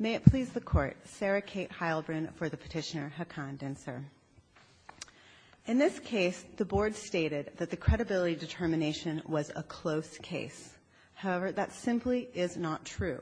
May it please the Court, Sarah Kate Heilbrunn for the petitioner Hakan Dincer. In this case, the Board stated that the credibility determination was a close case. However, that simply is not true.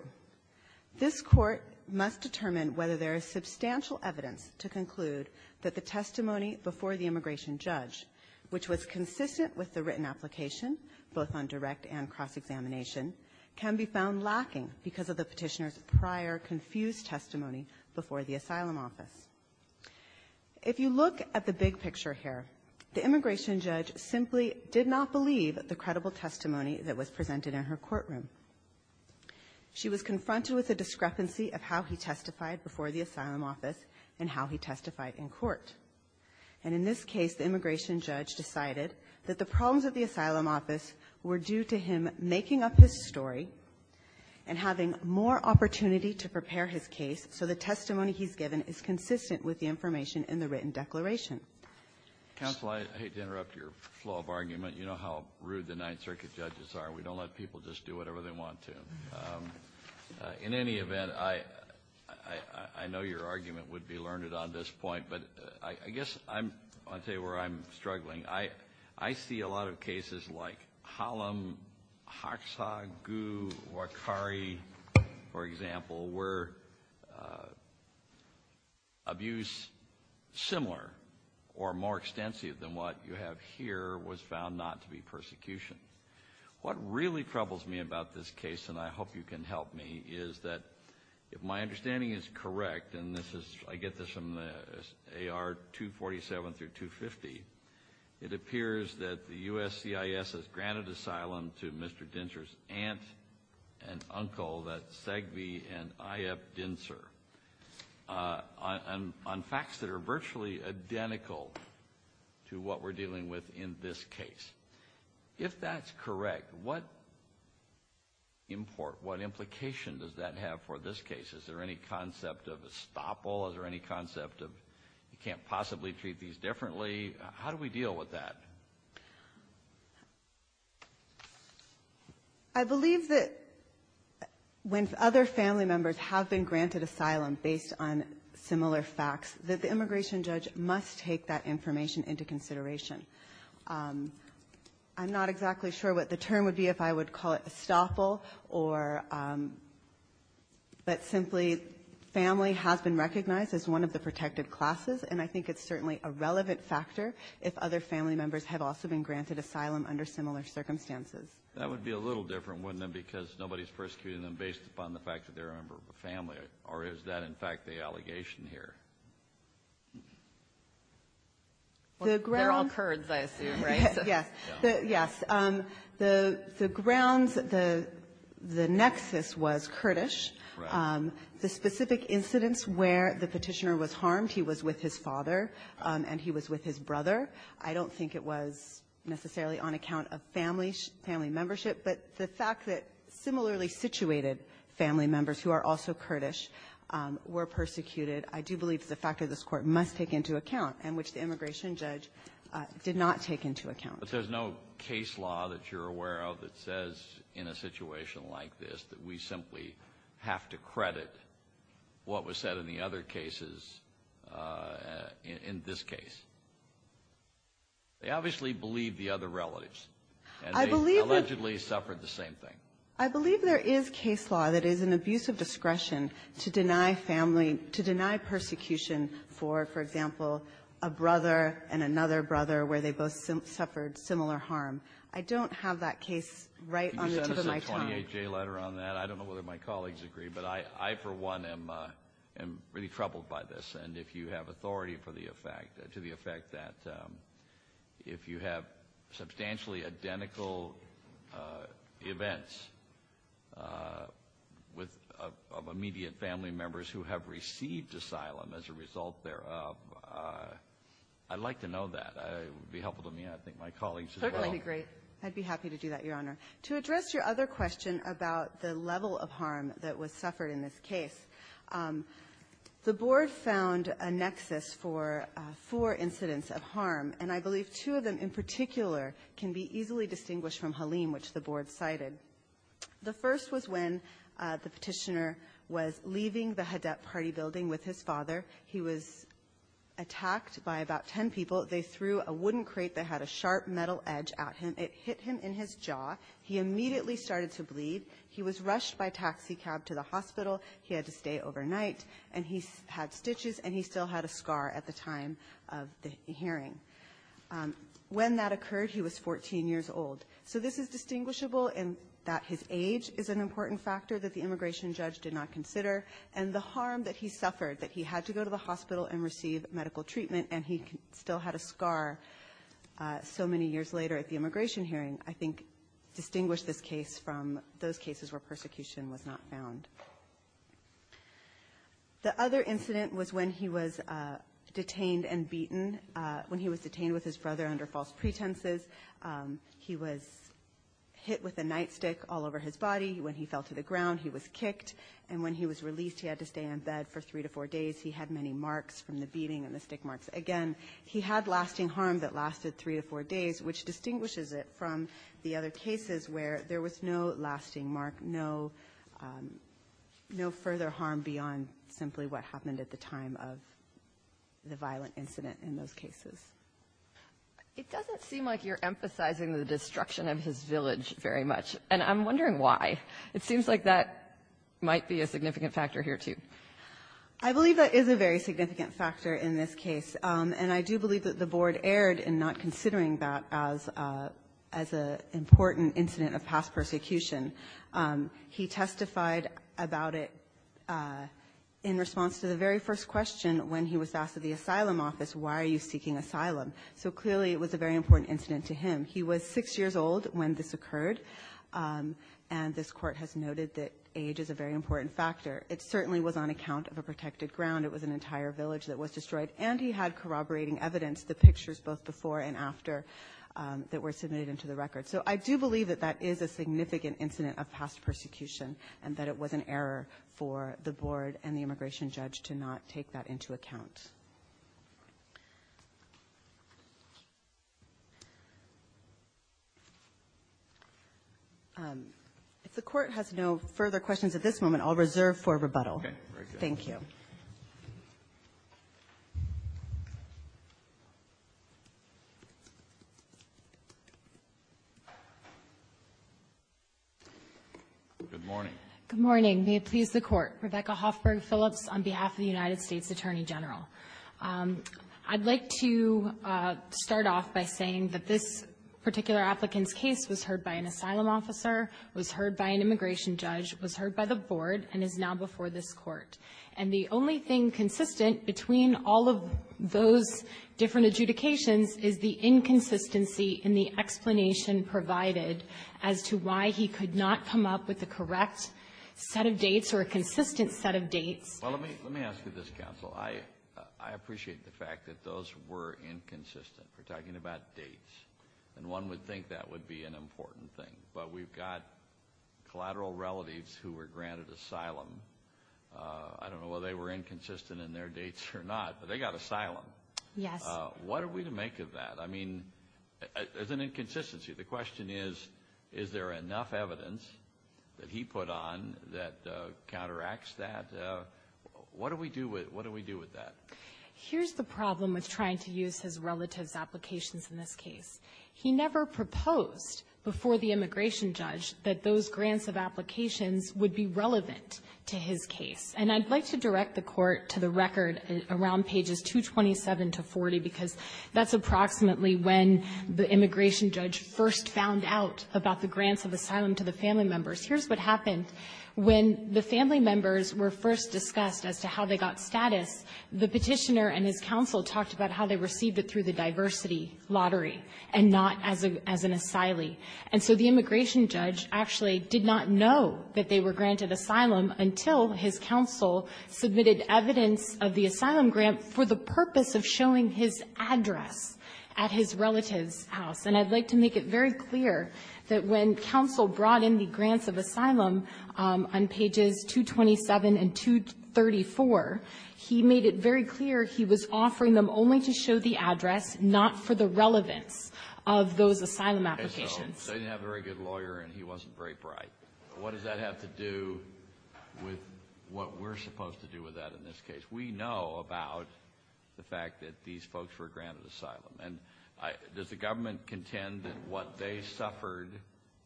This Court must determine whether there is substantial evidence to conclude that the testimony before the immigration judge, which was consistent with the written application, both on direct and cross-examination, can be found lacking because of the petitioner's prior confused testimony before the asylum office. If you look at the big picture here, the immigration judge simply did not believe the credible testimony that was presented in her courtroom. She was confronted with a discrepancy of how he testified before the asylum office and how he testified in court. And in this case, the immigration judge decided that the problems of the asylum office were due to him making up his story and having more opportunity to prepare his case so the testimony he's given is consistent with the information in the written declaration. Counsel, I hate to interrupt your flow of argument. You know how rude the Ninth Circuit judges are. We don't let people just do whatever they want to. In any event, I know your argument would be learned on this point, but I guess I'm going to tell you where I'm struggling. I see a lot of cases like Hallam, Hoxha, Gu, Wakari, for example, where abuse similar or more extensive than what you have here was found not to be persecution. What really troubles me about this case, and I hope you can help me, is that if my understanding is correct, and I get this from AR 247 through 250, it appears that the USCIS has granted asylum to Mr. Dintzer's aunt and uncle, that's Segbe and Iyep Dintzer, on facts that are virtually identical to what we're dealing with in this case. If that's correct, what import, what implication does that have for this case? Is there any concept of estoppel? Is there any concept of you can't possibly treat these differently? How do we deal with that? I believe that when other family members have been granted asylum based on similar facts, that the immigration judge must take that information into consideration. I'm not exactly sure what the term would be if I would call it estoppel, but simply family has been recognized as one of the protected classes, and I think it's certainly a relevant factor if other family members have also been granted asylum under similar circumstances. That would be a little different, wouldn't it, because nobody's persecuting them based upon the fact that they're a member of a family, or is that, in fact, the allegation here? They're all Kurds, I assume, right? Yes. Yes. The grounds, the nexus was Kurdish. The specific incidents where the Petitioner was harmed, he was with his father and he was with his brother. I don't think it was necessarily on account of family membership, but the fact that similarly situated family members who are also Kurdish were persecuted, I do believe is a factor this Court must take into account and which the immigration judge did not take into account. But there's no case law that you're aware of that says in a situation like this that we simply have to credit what was said in the other cases in this case. They obviously believe the other relatives. And they allegedly suffered the same thing. I believe there is case law that is an abuse of discretion to deny family, to deny persecution for, for example, a brother and another brother where they both suffered similar harm. I don't have that case right on the tip of my tongue. Can you send us a 28-J letter on that? I don't know whether my colleagues agree, but I, for one, am really troubled by this. And if you have authority for the effect, to the effect that if you have substantially identical events of immediate family members who have received asylum as a result thereof, I'd like to know that. It would be helpful to me and I think my colleagues as well. I'd be happy to do that, Your Honor. To address your other question about the level of harm that was suffered in this case, the Board found a nexus for four incidents of harm. And I believe two of them in particular can be easily distinguished from Halim, which the Board cited. The first was when the Petitioner was leaving the Hadad party building with his father. He was attacked by about ten people. They threw a wooden crate that had a sharp metal edge at him. It hit him in his jaw. He immediately started to bleed. He was rushed by taxi cab to the hospital. He had to stay overnight. And he had stitches and he still had a scar at the time of the hearing. When that occurred, he was 14 years old. So this is distinguishable in that his age is an important factor that the immigration judge did not consider, and the harm that he suffered, that he had to go to the hospital and receive medical treatment and he still had a scar so many years later at the immigration hearing, I think distinguish this case from those cases where persecution was not found. The other incident was when he was detained and beaten, when he was detained with his brother under false pretenses. He was hit with a nightstick all over his body. When he fell to the ground, he was kicked. And when he was released, he had to stay in bed for three to four days. He had many marks from the beating and the stick marks. Again, he had lasting harm that lasted three to four days, which distinguishes it from the other cases where there was no lasting mark, no further harm beyond simply what happened at the time of the violent incident in those cases. It doesn't seem like you're emphasizing the destruction of his village very much, and I'm wondering why. It seems like that might be a significant factor here too. I believe that is a very significant factor in this case, and I do believe that the Board erred in not considering that as an important incident of past persecution. He testified about it in response to the very first question when he was asked at the asylum office, why are you seeking asylum? So clearly it was a very important incident to him. He was six years old when this occurred, and this Court has noted that age is a very important factor. It certainly was on account of a protected ground. It was an entire village that was destroyed, and he had corroborating evidence, the pictures both before and after that were submitted into the record. So I do believe that that is a significant incident of past persecution and that it was an error for the Board and the immigration judge to not take that into account. Thank you. If the Court has no further questions at this moment, I'll reserve for rebuttal. Okay. Thank you. Good morning. Good morning. May it please the Court. Rebecca Hoffberg Phillips on behalf of the United States Attorney General. I'd like to start off by saying that this particular applicant's case was heard by an asylum officer, was heard by an immigration judge, was heard by the Board, and is now before this Court. And the only thing consistent between all of those different adjudications is the inconsistency in the explanation provided as to why he could not come up with a correct set of dates or a consistent set of dates. Well, let me ask you this, Counsel. I appreciate the fact that those were inconsistent. We're talking about dates, and one would think that would be an important thing. But we've got collateral relatives who were granted asylum. I don't know whether they were inconsistent in their dates or not, but they got asylum. Yes. What are we to make of that? I mean, there's an inconsistency. The question is, is there enough evidence that he put on that counteracts that? What do we do with that? Here's the problem with trying to use his relatives' applications in this case. He never proposed before the immigration judge that those grants of applications would be relevant to his case. And I'd like to direct the Court to the record around pages 227 to 40, because that's approximately when the immigration judge first found out about the grants of asylum to the family members. Here's what happened. When the family members were first discussed as to how they got status, the Petitioner and his counsel talked about how they received it through the diversity lottery and not as an asylee. And so the immigration judge actually did not know that they were granted asylum until his counsel submitted evidence of the asylum grant for the purpose of showing his address at his relatives' house. And I'd like to make it very clear that when counsel brought in the grants of asylum on pages 227 and 234, he made it very clear he was offering them only to show the address, not for the relevance of those asylum applications. Okay. So they didn't have a very good lawyer and he wasn't very bright. What does that have to do with what we're supposed to do with that in this case? We know about the fact that these folks were granted asylum. And does the government contend that what they suffered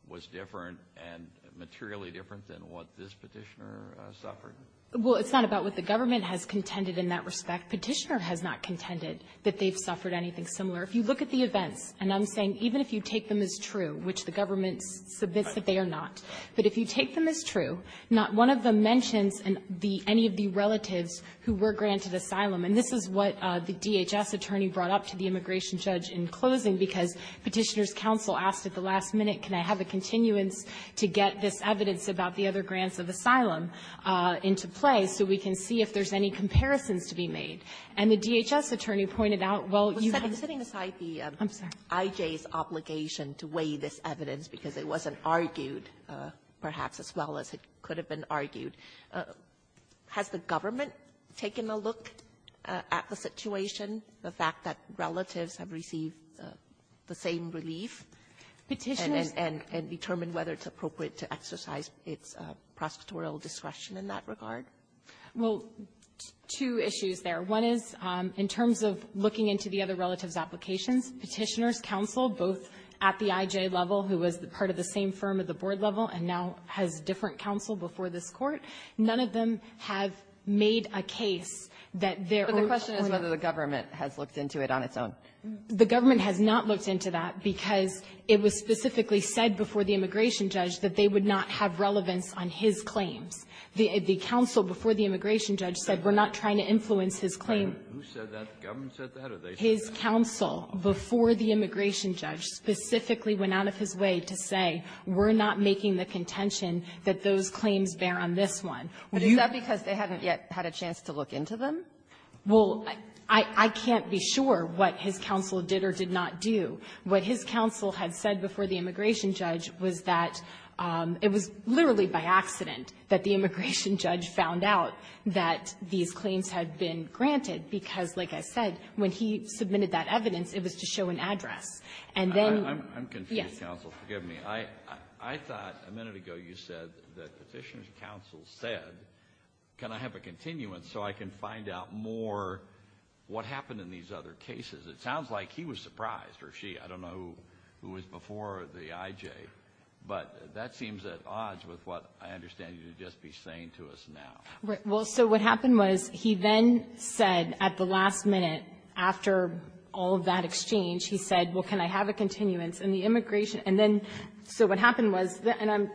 was different and materially different than what this Petitioner suffered? Well, it's not about what the government has contended in that respect. Petitioner has not contended that they've suffered anything similar. If you look at the events, and I'm saying even if you take them as true, which the government submits that they are not, but if you take them as true, not one of the two relatives who were granted asylum, and this is what the DHS attorney brought up to the immigration judge in closing, because Petitioner's counsel asked at the last minute, can I have a continuance to get this evidence about the other grants of asylum into play so we can see if there's any comparisons to be made? And the DHS attorney pointed out, well, you can't do that. Well, setting aside the I.J.'s obligation to weigh this evidence, because it wasn't argued, has the government taken a look at the situation, the fact that relatives have received the same relief? Petitioners — And determined whether it's appropriate to exercise its prosecutorial discretion in that regard? Well, two issues there. One is in terms of looking into the other relatives' applications, Petitioner's counsel, both at the I.J. level, who was part of the same firm at the board level and now has different counsel before this Court, none of them have made a case that they're — But the question is whether the government has looked into it on its own. The government has not looked into that because it was specifically said before the immigration judge that they would not have relevance on his claims. The counsel before the immigration judge said, we're not trying to influence his claim. Who said that? The government said that, or did they say that? His counsel before the immigration judge specifically went out of his way to say, we're not making the contention that those claims bear on this one. But is that because they hadn't yet had a chance to look into them? Well, I can't be sure what his counsel did or did not do. What his counsel had said before the immigration judge was that it was literally by accident that the immigration judge found out that these claims had been granted because, like I said, when he submitted that evidence, it was to show an address. And then — Counsel, forgive me. I thought a minute ago you said that the petitioner's counsel said, can I have a continuance so I can find out more what happened in these other cases? It sounds like he was surprised, or she. I don't know who was before the IJ. But that seems at odds with what I understand you to just be saying to us now. Right. Well, so what happened was he then said at the last minute, after all of that exchange, he said, well, can I have a continuance? And the immigration — and then, so what happened was, and I'm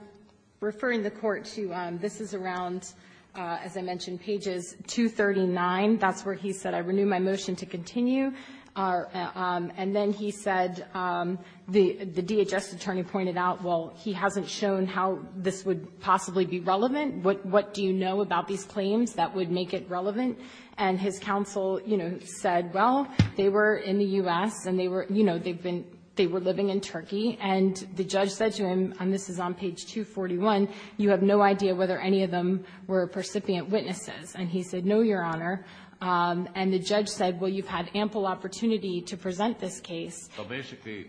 referring the Court to, this is around, as I mentioned, pages 239. That's where he said, I renew my motion to continue. And then he said, the DHS attorney pointed out, well, he hasn't shown how this would possibly be relevant. What do you know about these claims that would make it relevant? And his counsel, you know, said, well, they were in the U.S. and they were, you know, they were living in Turkey. And the judge said to him, and this is on page 241, you have no idea whether any of them were percipient witnesses. And he said, no, Your Honor. And the judge said, well, you've had ample opportunity to present this case. Well, basically,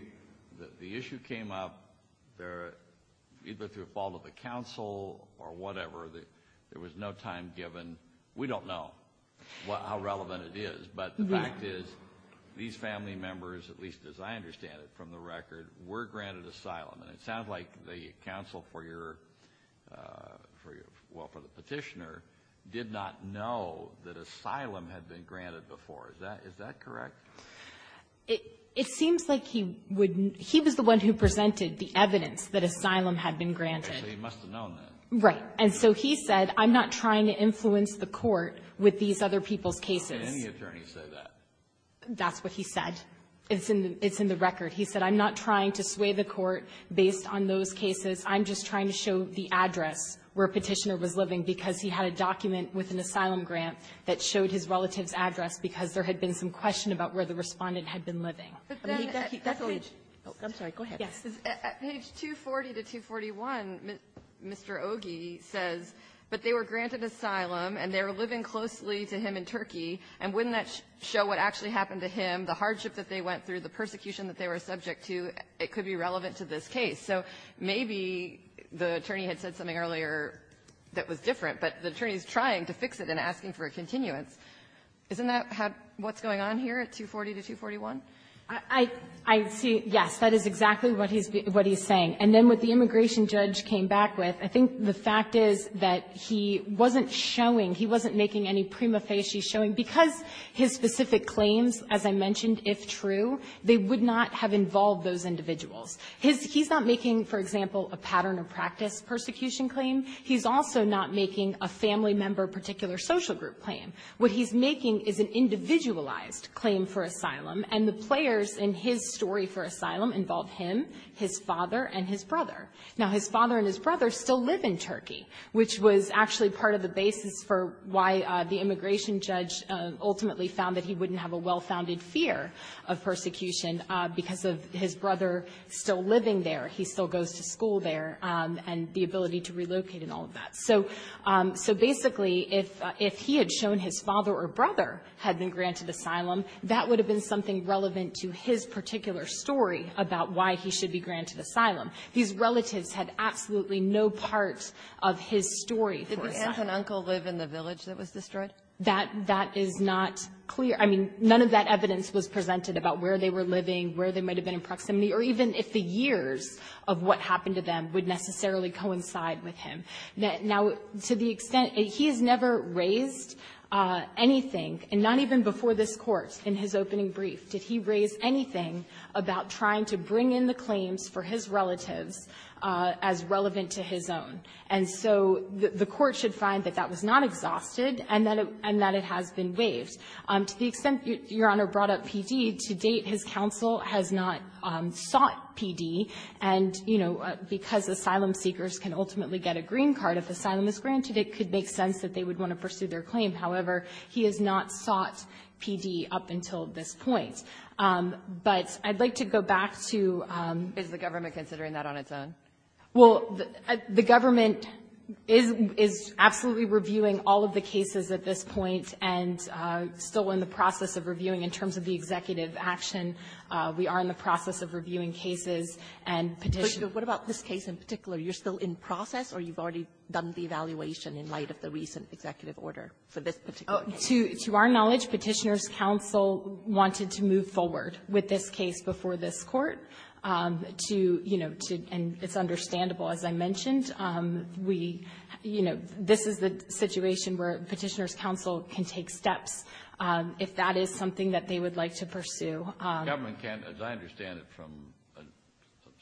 the issue came up either through fault of the counsel or whatever. There was no time given. We don't know how relevant it is. But the fact is, these family members, at least as I understand it from the record, were granted asylum. And it sounds like the counsel for your, well, for the Petitioner, did not know that asylum had been granted before. Is that correct? It seems like he would, he was the one who presented the evidence that asylum had been granted. So he must have known that. Right. And so he said, I'm not trying to influence the Court with these other people's cases. Can any attorney say that? That's what he said. It's in the record. He said, I'm not trying to sway the Court based on those cases. I'm just trying to show the address where Petitioner was living, because he had a document with an asylum grant that showed his relative's address, because there had been some question about where the Respondent had been living. I believe that's page --- I'm sorry. Go ahead. Yes. Page 240 to 241, Mr. Ogie says, but they were granted asylum, and they were living closely to him in Turkey, and wouldn't that show what actually happened to him, the hardship that they went through, the persecution that they were subject to? It could be relevant to this case. So maybe the attorney had said something earlier that was different, but the attorney is trying to fix it and asking for a continuance. Isn't that what's going on here at 240 to 241? I see, yes, that is exactly what he's saying. And then what the immigration judge came back with, I think the fact is that he wasn't showing, he wasn't making any prima facie showing, because his specific claims, as I mentioned, if true, they would not have involved those individuals. He's not making, for example, a pattern of practice persecution claim. He's also not making a family member particular social group claim. What he's making is an individualized claim for asylum, and the players in his story for asylum involve him, his father, and his brother. Now, his father and his brother still live in Turkey, which was actually part of the basis for why the immigration judge ultimately found that he wouldn't have a well-founded fear of persecution because of his brother still living there. He still goes to school there, and the ability to relocate and all of that. So basically, if he had shown his father or brother had been granted asylum, that would have been something relevant to his particular story about why he should be granted asylum. His relatives had absolutely no part of his story for asylum. Kagan Did the aunt and uncle live in the village that was destroyed? That is not clear. I mean, none of that evidence was presented about where they were living, where they might have been in proximity, or even if the years of what happened to them would necessarily coincide with him. Now, to the extent he's never raised anything, and not even before this Court in his opening brief, did he raise anything about trying to bring in the claims for his relatives as relevant to his own. And so the Court should find that that was not exhausted and that it has been waived. To the extent Your Honor brought up PD, to date his counsel has not sought PD, and you know, because asylum seekers can ultimately get a green card, if asylum is granted, it could make sense that they would want to pursue their claim. However, he has not sought PD up until this point. But I'd like to go back to the question of whether or not the government is considering that on its own. Well, the government is absolutely reviewing all of the cases at this point and still in the process of reviewing in terms of the executive action. We are in the process of reviewing cases and Petitioner's Counsel. But what about this case in particular? You're still in process, or you've already done the evaluation in light of the recent executive order for this particular case? To our knowledge, Petitioner's Counsel wanted to move forward with this case before this Court, to, you know, to, and it's understandable, as I mentioned, we, you know, this is the situation where Petitioner's Counsel can take steps if that is something that they would like to pursue. The government can't, as I understand it from a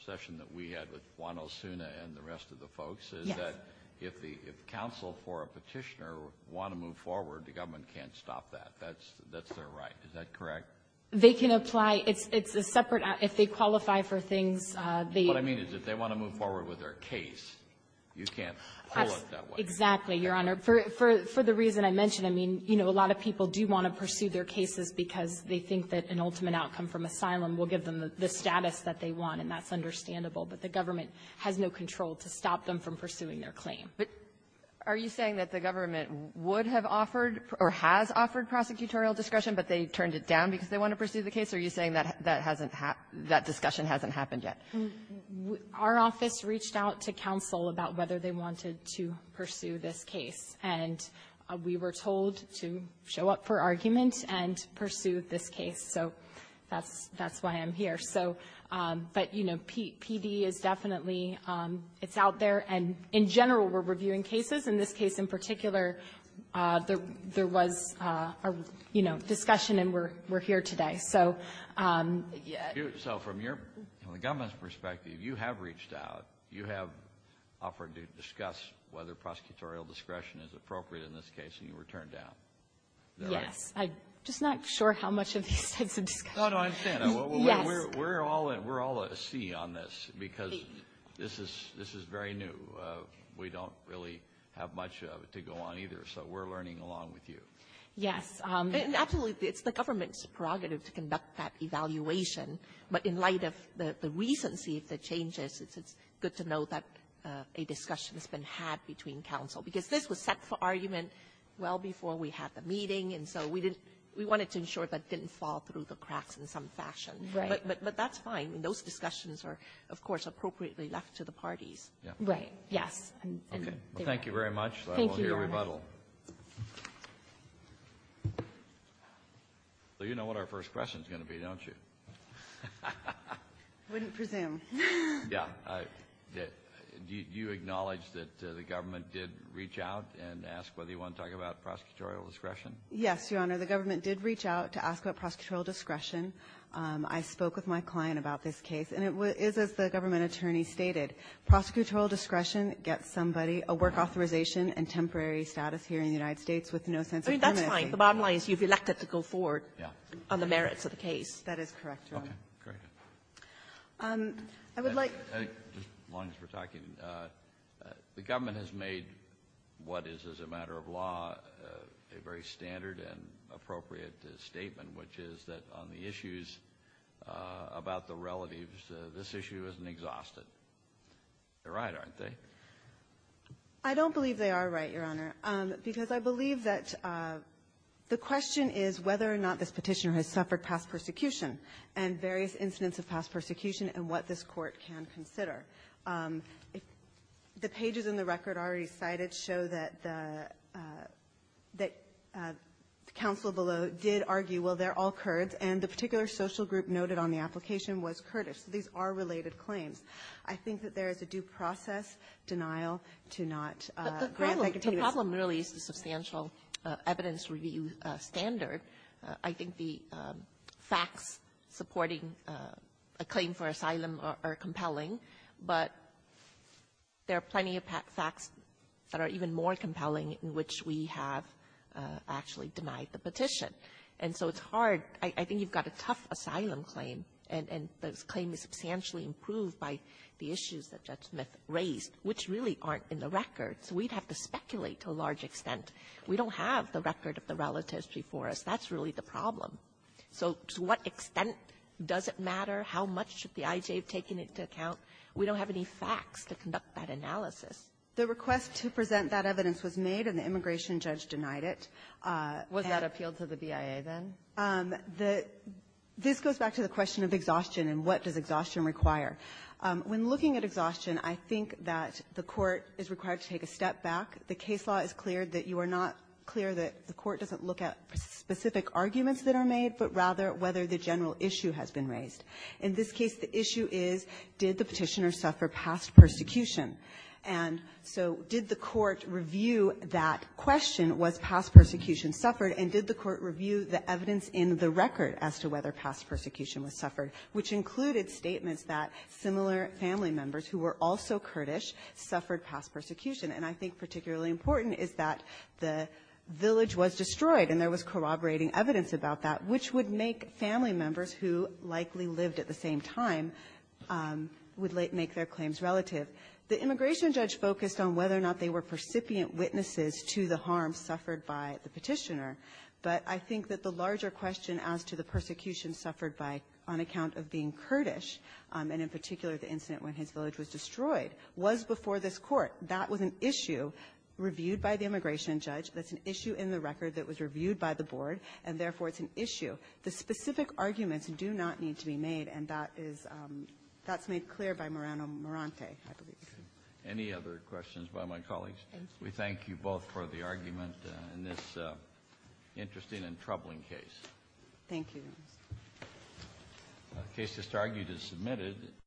session that we had with Juan Osuna and the rest of the folks, is that if the counsel for a petitioner want to move forward, the government can't stop that, that's their right, is that correct? They can apply. It's a separate act. If they qualify for things, they can't. What I mean is if they want to move forward with their case, you can't pull it that way. Exactly, Your Honor. For the reason I mentioned, I mean, you know, a lot of people do want to pursue their cases because they think that an ultimate outcome from asylum will give them the status that they want, and that's understandable. But the government has no control to stop them from pursuing their claim. But are you saying that the government would have offered or has offered prosecutorial discretion, but they turned it down because they want to pursue the case, or are you saying that that hasn't happened, that discussion hasn't happened yet? Our office reached out to counsel about whether they wanted to pursue this case. And we were told to show up for argument and pursue this case. So that's why I'm here. So, but, you know, PD is definitely, it's out there. And in general, we're reviewing cases. In this case in particular, there was a, you know, discussion, and we're here today. So, yeah. So from your government's perspective, you have reached out, you have offered to discuss whether prosecutorial discretion is appropriate in this case, and you were turned down. Yes. I'm just not sure how much of these types of discussions. No, no, I understand. Yes. Well, we're all at sea on this because this is very new. We don't really have much of it to go on either. So we're learning along with you. Yes. And absolutely, it's the government's prerogative to conduct that evaluation. But in light of the recency of the changes, it's good to know that a discussion has been had between counsel. Because this was set for argument well before we had the meeting. And so we wanted to ensure that it didn't fall through the cracks in some fashion. Right. But that's fine. Those discussions are, of course, appropriately left to the parties. Right. Yes. Okay. Well, thank you very much. Thank you, Your Honor. We'll hear a rebuttal. So you know what our first question is going to be, don't you? I wouldn't presume. Yeah. Do you acknowledge that the government did reach out and ask whether you want to talk about prosecutorial discretion? Yes, Your Honor. The government did reach out to ask about prosecutorial discretion. I spoke with my client about this case. And it is, as the government attorney stated, prosecutorial discretion gets somebody a work authorization and temporary status here in the United States with no sense of permanency. I mean, that's fine. The bottom line is you've elected to go forward on the merits of the case. That is correct, Your Honor. Okay. Very good. I would like to say, just as long as we're talking, the government has made what is, as a matter of law, a very standard and appropriate statement, which is that on the issues about the relatives, this issue isn't exhausted. They're right, aren't they? I don't believe they are right, Your Honor, because I believe that the question is whether or not this petitioner has suffered past persecution and various incidents of past persecution and what this court can consider. The pages in the record already cited show that the counsel below did argue, well, they're all Kurds. And the particular social group noted on the application was Kurdish. So these are related claims. I think that there is a due process denial to not grant that continuity. But the problem really is the substantial evidence review standard. I think the facts supporting a claim for asylum are compelling, but there are plenty of facts that are even more compelling in which we have actually denied the petition. And so it's hard. I think you've got a tough asylum claim, and this claim is substantially improved by the issues that Judge Smith raised, which really aren't in the record. So we'd have to speculate to a large extent. We don't have the record of the relatives before us. That's really the problem. So to what extent does it matter? How much should the IJ have taken into account? We don't have any facts to conduct that analysis. The request to present that evidence was made, and the immigration judge denied it. Kagan. Was that appealed to the BIA then? The this goes back to the question of exhaustion and what does exhaustion require. When looking at exhaustion, I think that the Court is required to take a step back. The case law is clear that you are not clear that the Court doesn't look at specific arguments that are made, but rather whether the general issue has been raised. In this case, the issue is did the Petitioner suffer past persecution? And so did the Court review that question, was past persecution suffered? And did the Court review the evidence in the record as to whether past persecution was suffered, which included statements that similar family members who were also Kurdish suffered past persecution? And I think particularly important is that the village was destroyed and there was corroborating evidence about that, which would make family members who likely lived at the same time would make their claims relative. The immigration judge focused on whether or not they were percipient witnesses to the harm suffered by the Petitioner. But I think that the larger question as to the persecution suffered by, on account of being Kurdish, and in particular the incident when his village was destroyed, was before this Court. That was an issue reviewed by the immigration judge. That's an issue in the record that was reviewed by the Board, and therefore, it's an issue. The specific arguments do not need to be made, and that is, that's made clear by Murano Morante, I believe. Any other questions by my colleagues? We thank you both for the argument in this interesting and troubling case. Thank you. The case just argued is submitted.